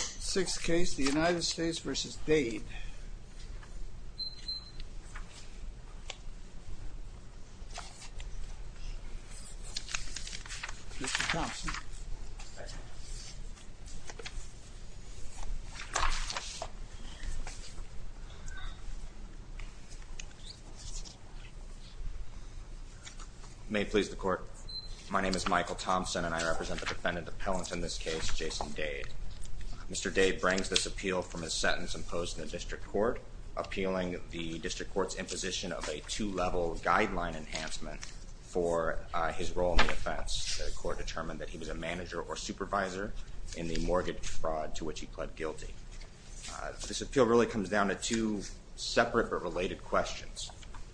Sixth case, the United States v. Dade. May it please the court, my name is Michael Thompson and I represent the United States v. Dade. Mr. Dade brings this appeal from a sentence imposed in the district court appealing the district court's imposition of a two-level guideline enhancement for his role in the offense. The court determined that he was a manager or supervisor in the mortgage fraud to which he pled guilty. This appeal really comes down to two separate but related questions.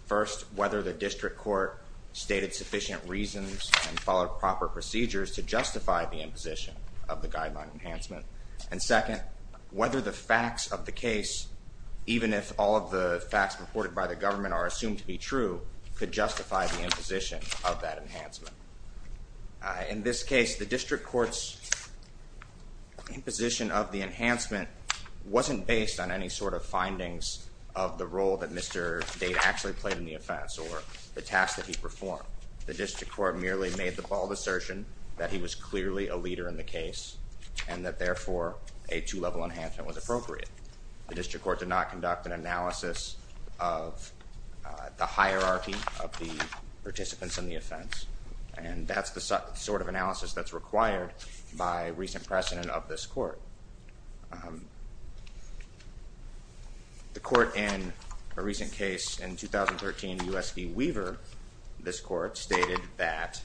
First, whether the district court stated sufficient reasons and followed proper procedures to enforce that enhancement. And second, whether the facts of the case, even if all of the facts reported by the government are assumed to be true, could justify the imposition of that enhancement. In this case, the district court's imposition of the enhancement wasn't based on any sort of findings of the role that Mr. Dade actually played in the offense or the task that he performed. The district court merely made the bald assertion that he was clearly a manager and that therefore a two-level enhancement was appropriate. The district court did not conduct an analysis of the hierarchy of the participants in the offense and that's the sort of analysis that's required by recent precedent of this court. The court in a recent case in 2013, U.S. v. Weaver, this court stated that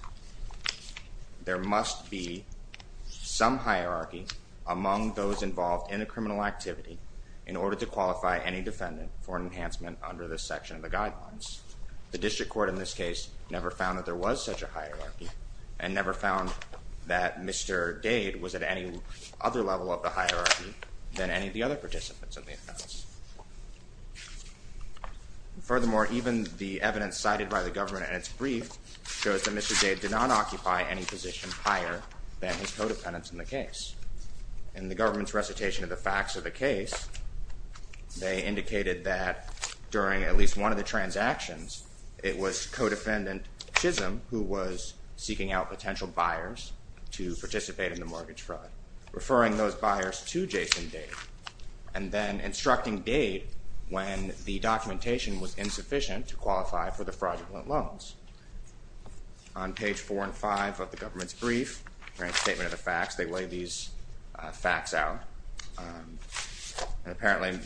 there must be some hierarchy among those involved in a criminal activity in order to qualify any defendant for an enhancement under this section of the guidelines. The district court in this case never found that there was such a hierarchy and never found that Mr. Dade was at any other level of the hierarchy than any of the other participants of the offense. Furthermore, even the evidence cited by the government in its brief shows that Mr. Dade did not occupy any position higher than his co-dependents in the case. In the government's recitation of the facts of the case, they indicated that during at least one of the transactions, it was co-defendant Chisholm who was seeking out potential buyers to participate in the mortgage fraud, referring those buyers to Jason Dade and then instructing Dade when the documentation was insufficient to qualify for the fraudulent loans. On page four and five of the government's brief, during the statement of the facts, they lay these facts out and apparently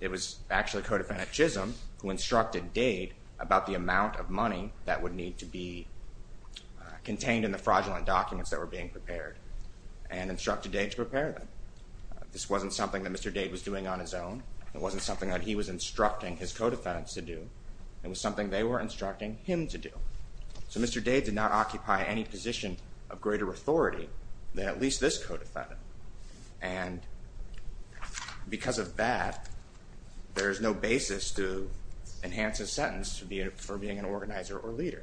it was actually co-defendant Chisholm who instructed Dade about the amount of money that would need to be contained in the fraudulent documents that were being prepared and instructed Dade to prepare them. This wasn't something that Mr. Dade was doing on his own. It wasn't something that he was instructing his co-defendants to do. It was something they were instructing him to do. So Mr. Dade did not occupy any position of greater authority than at least this co-defendant and because of that, there is no basis to enhance a sentence for being an organizer or leader.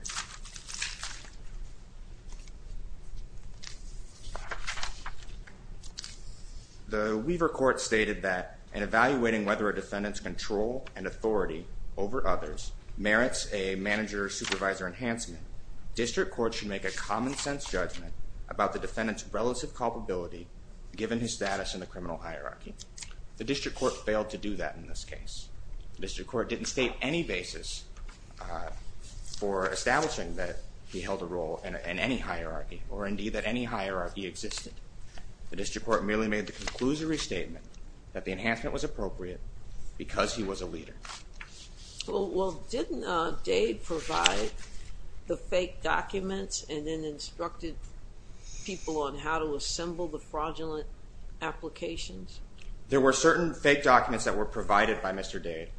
The Weaver court stated that in evaluating whether a defendant's control and authority over others merits a manager-supervisor enhancement, district court should make a common-sense judgment about the defendant's relative culpability given his status in the criminal hierarchy. The district court failed to do that in this case. The district court didn't state any basis for establishing that he held a role in any hierarchy or indeed that any hierarchy existed. The district court merely made the conclusory statement that the enhancement was appropriate because he was a leader. Well didn't Dade provide the fake documents and then instructed people on how to assemble the fraudulent applications? There were certain fake documents that were provided by Mr. Dade.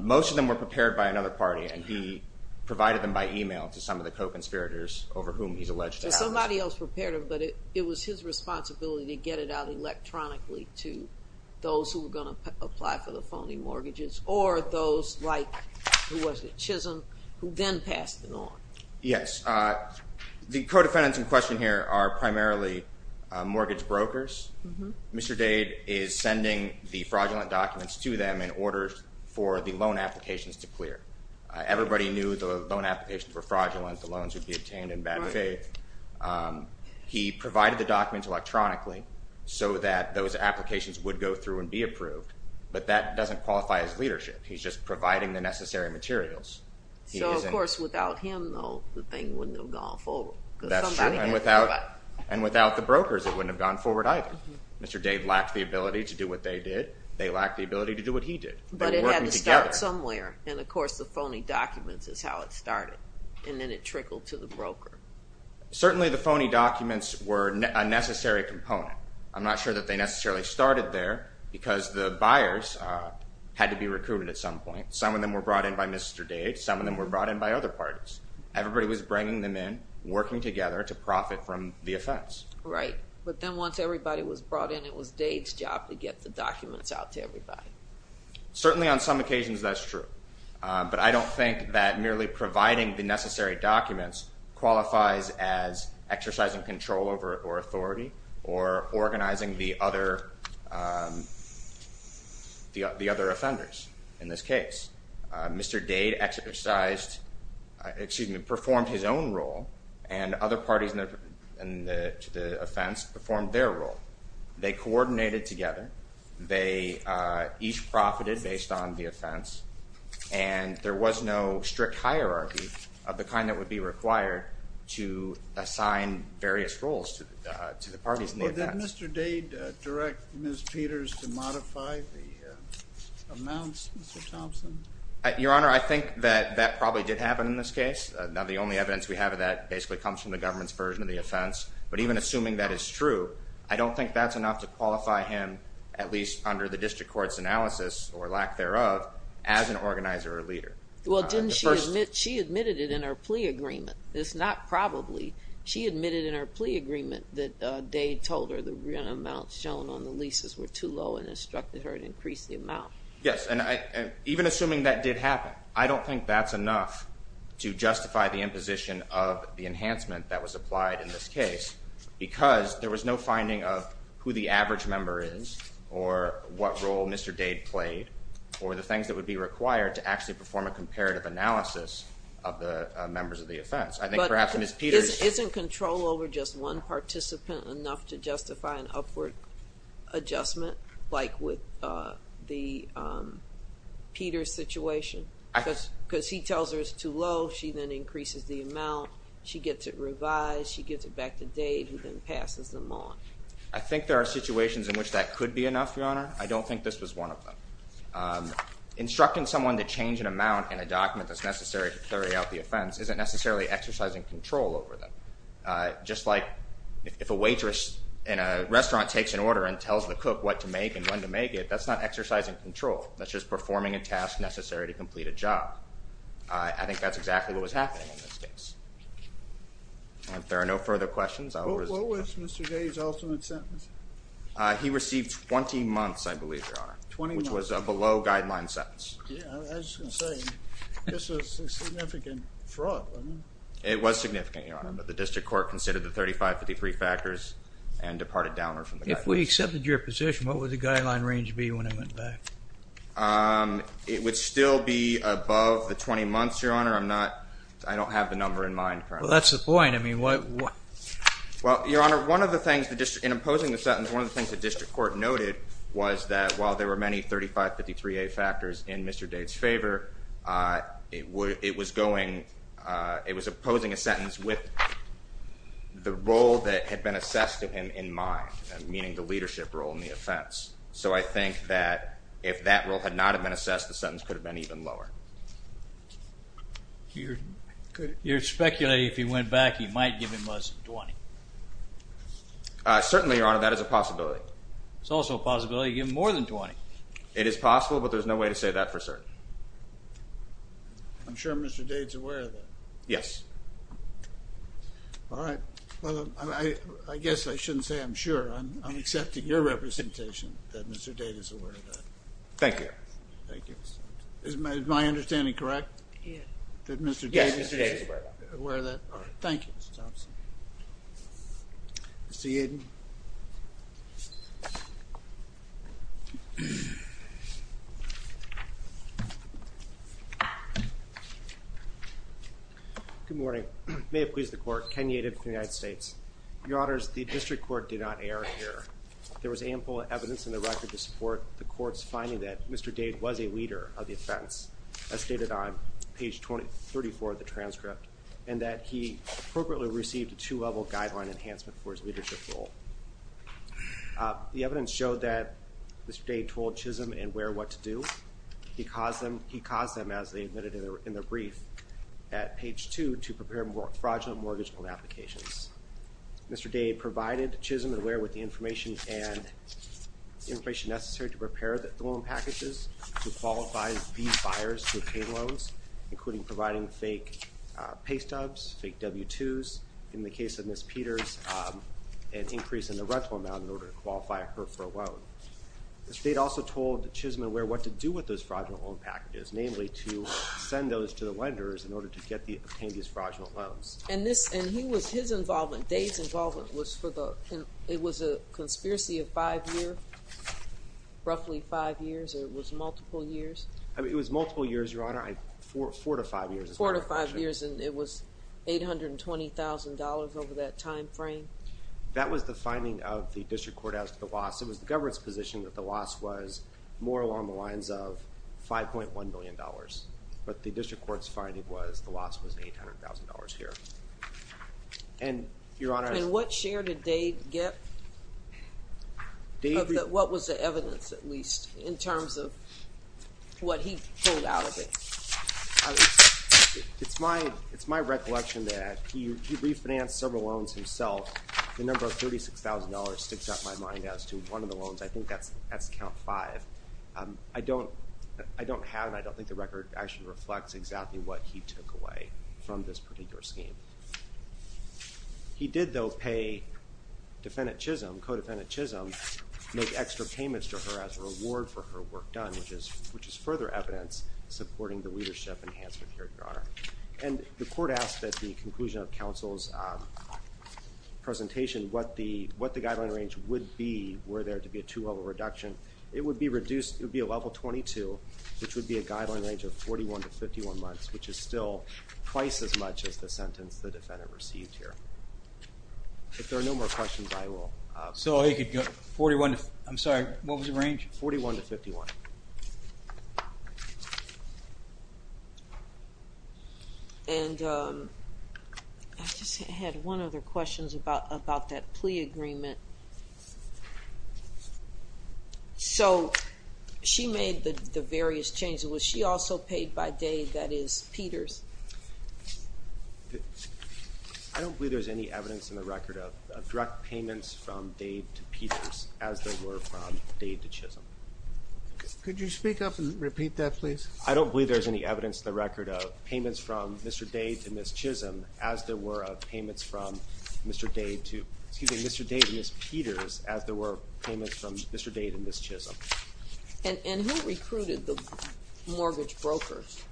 Most of them were prepared by another party and he provided them by email to some of the co-conspirators over whom he's alleged to have. Somebody else prepared them but it was his responsibility to get it out electronically to those who were going to apply for the phony mortgages or those like Chisholm who then passed it on. Yes, the co-defendants in question here are primarily mortgage brokers. Mr. Dade is sending the fraudulent documents to them in order for the loan applications to clear. Everybody knew the loan applications were fraudulent, the loans would be obtained in bad faith. He provided the documents electronically so that those applications would go through and be approved but that doesn't qualify as leadership. He's just providing the necessary materials. So of course without him though the thing wouldn't have gone forward. That's true and without the brokers it wouldn't have gone forward either. Mr. Dade lacked the ability to do what they did. They lacked the ability to do what he did. But it had to start somewhere and of course the phony documents is how it started and then it trickled to the broker. Certainly the phony documents were a necessary component. I'm not sure that they necessarily started there because the buyers had to be recruited at some point. Some of them were brought in by Mr. Dade, some of them were brought in by other parties. Everybody was bringing them in, working together to profit from the offense. Right, but then once everybody was brought in it was Dade's job to get the documents out to everybody. Certainly on some occasions that's true but I don't think that merely providing the necessary documents qualifies as exercising control over authority or organizing the other offenders in this case. Mr. Dade exercised, excuse me, performed his own role and other parties in the offense performed their role. They coordinated together. They each profited based on the offense and there was no strict hierarchy of the kind that would be required to assign various roles to the parties in the offense. Did Mr. Dade direct Ms. Peters to modify the amounts, Mr. Thompson? Your Honor, I think that that probably did happen in this case. Now the only evidence we have of that basically comes from the government's version of the offense but even assuming that is true I don't think that's enough to qualify him at least under the district court's analysis or lack thereof as an organizer or leader. Well didn't she admit, she admitted it in her plea agreement. It's not probably. She admitted in her plea agreement that Dade told her the amount shown on the leases were too low and instructed her to increase the amount. Yes and even assuming that did happen I don't think that's enough to justify the imposition of the enhancement that was applied in this case because there was no finding of who the average member is or what role Mr. Dade played or the things that would be required to actually perform a comparative analysis of the members of the offense. I think perhaps Ms. Peters... Isn't control over just one participant enough to justify an upward adjustment like with the Peters situation? Because he tells her it's too low, she then increases the amount, she gets it revised, she gives it back to Dade who then passes them on. I think there are situations in which that could be enough, Your Honor. I don't think this was one of them. Instructing someone to change an amount in a document that's necessary to carry out the offense isn't necessarily exercising control over them. Just like if a waitress in a restaurant takes an order and tells the cook what to make and when to make it, that's not exercising control. That's just performing a task necessary to complete a job. I think that's exactly what was happening in this case. If there are no further questions... What was Mr. Dade's ultimate sentence? He received 20 months, I believe, Your Honor, which was a below guideline sentence. I was just going to say, this was a significant fraud, wasn't it? It was significant, Your Honor, but the district court considered the 3553 factors and departed downward from the guidelines. If we accepted your position, what would the guideline range be when I went back? It would still be above the 20 months, Your Honor. I don't have the number in mind. Well, that's the point. I mean, well, Your Honor, one of the things in imposing the sentence, one of the things the district court noted was that while there were many 3553A factors in Mr. Dade's favor, it was opposing a sentence with the role that had been assessed to him in mind, meaning the leadership role in the offense. So I think that if that role had not been assessed, the sentence could have given him less than 20. Certainly, Your Honor, that is a possibility. It's also a possibility to give him more than 20. It is possible, but there's no way to say that for certain. I'm sure Mr. Dade's aware of that. Yes. All right. Well, I guess I shouldn't say I'm sure. I'm accepting your representation that Mr. Dade is aware of that. Thank you, Your Honor. Thank you. Is my Mr. Yadin? Good morning. May it please the court, Ken Yadin from the United States. Your Honors, the district court did not err here. There was ample evidence in the record to support the court's finding that Mr. Dade was a leader of the offense, as he received a two-level guideline enhancement for his leadership role. The evidence showed that Mr. Dade told Chisholm and Ware what to do. He caused them, as they admitted in their brief, at page 2 to prepare fraudulent mortgage loan applications. Mr. Dade provided Chisholm and Ware with the information and information necessary to prepare the loan packages to qualify these buyers to make W-2s, in the case of Ms. Peters, an increase in the rental amount in order to qualify her for a loan. The state also told Chisholm and Ware what to do with those fraudulent loan packages, namely to send those to the lenders in order to obtain these fraudulent loans. And this, and he was, his involvement, Dade's involvement was for the, it was a conspiracy of five years, roughly five years, or it was multiple years? It was multiple years, Your Honor. Four to five years, and it was $820,000 over that time frame? That was the finding of the district court as to the loss. It was the government's position that the loss was more along the lines of $5.1 million, but the district court's finding was the loss was $800,000 here. And, Your Honor. And what share did Dade get? What was the It's my, it's my recollection that he refinanced several loans himself. The number of $36,000 sticks up my mind as to one of the loans. I think that's, that's count five. I don't, I don't have, and I don't think the record actually reflects exactly what he took away from this particular scheme. He did, though, pay defendant Chisholm, codefendant Chisholm, make extra payments to her as a reward for her work done, which is, which is further evidence supporting the And the court asked at the conclusion of counsel's presentation what the, what the guideline range would be were there to be a two-level reduction. It would be reduced, it would be a level 22, which would be a guideline range of 41 to 51 months, which is still twice as much as the sentence the defendant received here. If there are no more questions, I will. So he could go 41 to, I'm sorry, what was the range? 41 to 51. And I just had one other questions about, about that plea agreement. So she made the various changes. Was she also paid by Dade, that is Peters? I don't believe there's any evidence in the record of direct payments from Dade to Peters as there were from Dade to Chisholm. Could you speak up and repeat that, please? I don't believe there's any evidence in the record of payments from Mr. Dade to Ms. Chisholm as there were payments from Mr. Dade to, excuse me, Mr. Dade to Ms. Peters as there were payments from Mr. Dade and Ms. Chisholm. And who recruited the mortgage brokers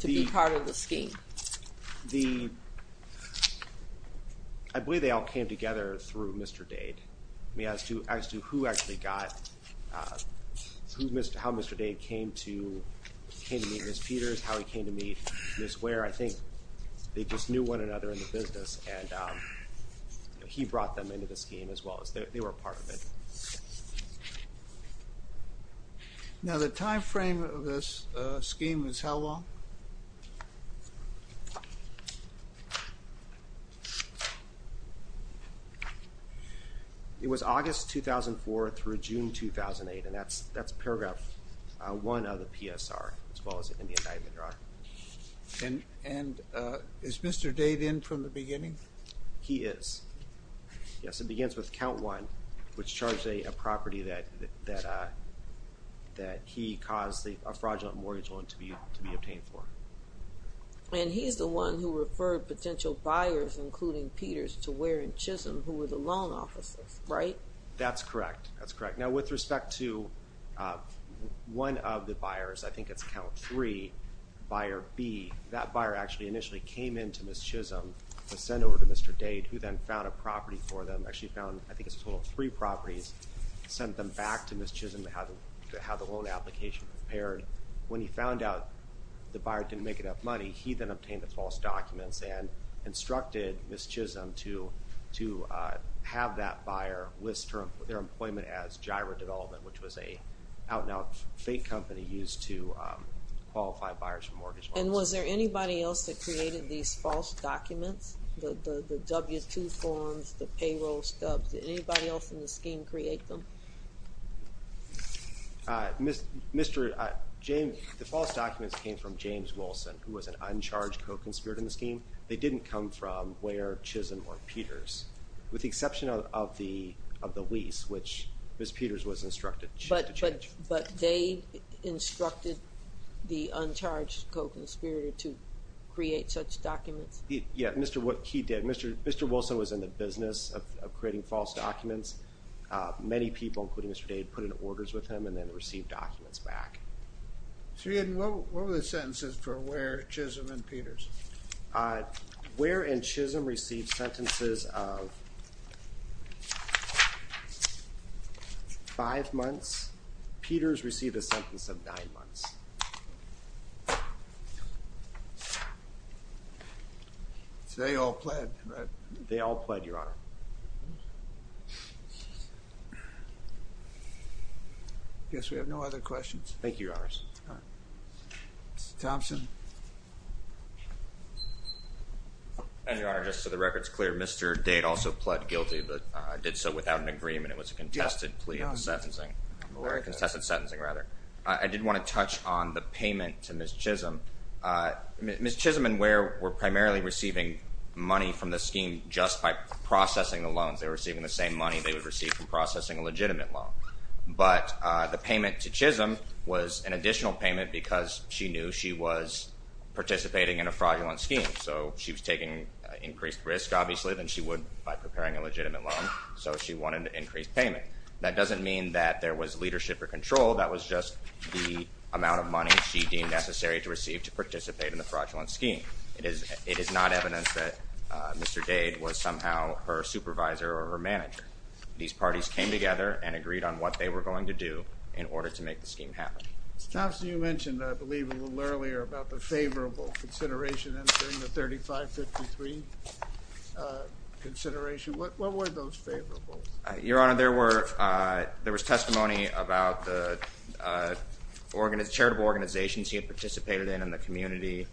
to be part of the scheme? The, I believe they all came together through Mr. Dade. I mean, as to who actually got, how Mr. Dade came to, came to meet Ms. Peters, how he came to meet Ms. Ware, I think they just knew one another in the business and he brought them into the scheme as well as, they were a part of it. Now the time frame of this scheme is how long? It was August 2004 through June 2008 and that's, that's paragraph one of the PSR as well as in the indictment, Your Honor. And is Mr. Dade in from the beginning? He is. Yes, it begins with count one, which charged a property that, that he caused a fraudulent mortgage loan to be obtained for. And he's the one who and Chisholm who were the loan officers, right? That's correct, that's correct. Now with respect to one of the buyers, I think it's count three, buyer B, that buyer actually initially came in to Ms. Chisholm to send over to Mr. Dade, who then found a property for them, actually found, I think it's a total of three properties, sent them back to Ms. Chisholm to have the loan application prepared. When he found out the buyer didn't make enough money, he then obtained the false documents and instructed Ms. Chisholm to, to have that buyer list their employment as Gyra Development, which was a out-and-out fake company used to qualify buyers for mortgage loans. And was there anybody else that created these false documents? The W-2 forms, the payroll stubs, did anybody else in the scheme create them? Mr. James, the false documents came from James Co-Conspirator in the scheme. They didn't come from Ware, Chisholm, or Peters, with the exception of the lease, which Ms. Peters was instructed to change. But Dade instructed the uncharged co-conspirator to create such documents? Yeah, he did. Mr. Wilson was in the business of creating false documents. Many people, including Mr. Dade, put in orders with him and then received documents back. So what were the sentences for Ware, Chisholm, and Peters? Ware and Chisholm received sentences of five months. Peters received a sentence of nine months. So they all pled, right? They all pled, Your Honor. I guess we have no other questions. Thank you, Your Honors. Mr. Thompson? And Your Honor, just so the record's clear, Mr. Dade also pled guilty, but did so without an agreement. It was a contested plea of sentencing, or a contested sentencing, rather. I did want to touch on the payment to Ms. Chisholm. Ms. Chisholm and Ware were primarily receiving money from the scheme just by processing the loans. They were receiving the same money they would receive from processing a legitimate loan. But the payment to Chisholm was an additional payment because she knew she was participating in a fraudulent scheme. So she was taking increased risk, obviously, than she would by preparing a legitimate loan. So she wanted an increased payment. That doesn't mean that there was leadership or control. That was just the amount of money she deemed necessary to receive to participate in the fraudulent scheme. It is not evidence that Mr. Dade was somehow her supervisor or her manager. These parties came together and agreed on what they were going to do in order to make the scheme happen. Mr. Thompson, you mentioned, I believe, a little earlier about the favorable consideration entering the 3553 consideration. What were those favorables? Your Honor, there were testimony about the charitable organizations he had participated in in the community,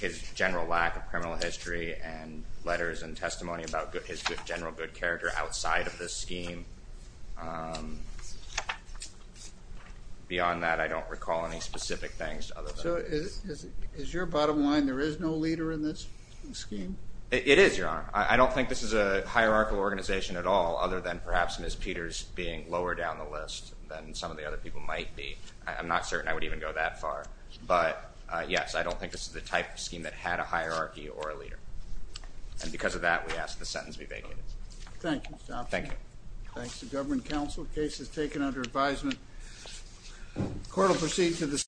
his general lack of criminal history, and letters and testimony about his general good character outside of this scheme. Beyond that, I don't recall any specific things. So is your bottom line there is no leader in this scheme? It is, Your Honor. I don't think this is a hierarchical organization at all, other than perhaps Ms. Peters being lower down the list than some of the other people might be. I'm not certain I would even go that far, but yes, I don't think this is the type of scheme that had a hierarchy or a leader. And because of that, we ask the sentence be vacated. Thank you, Mr. Thompson. Thanks to government counsel. Case is taken under advisement. Court will proceed to the...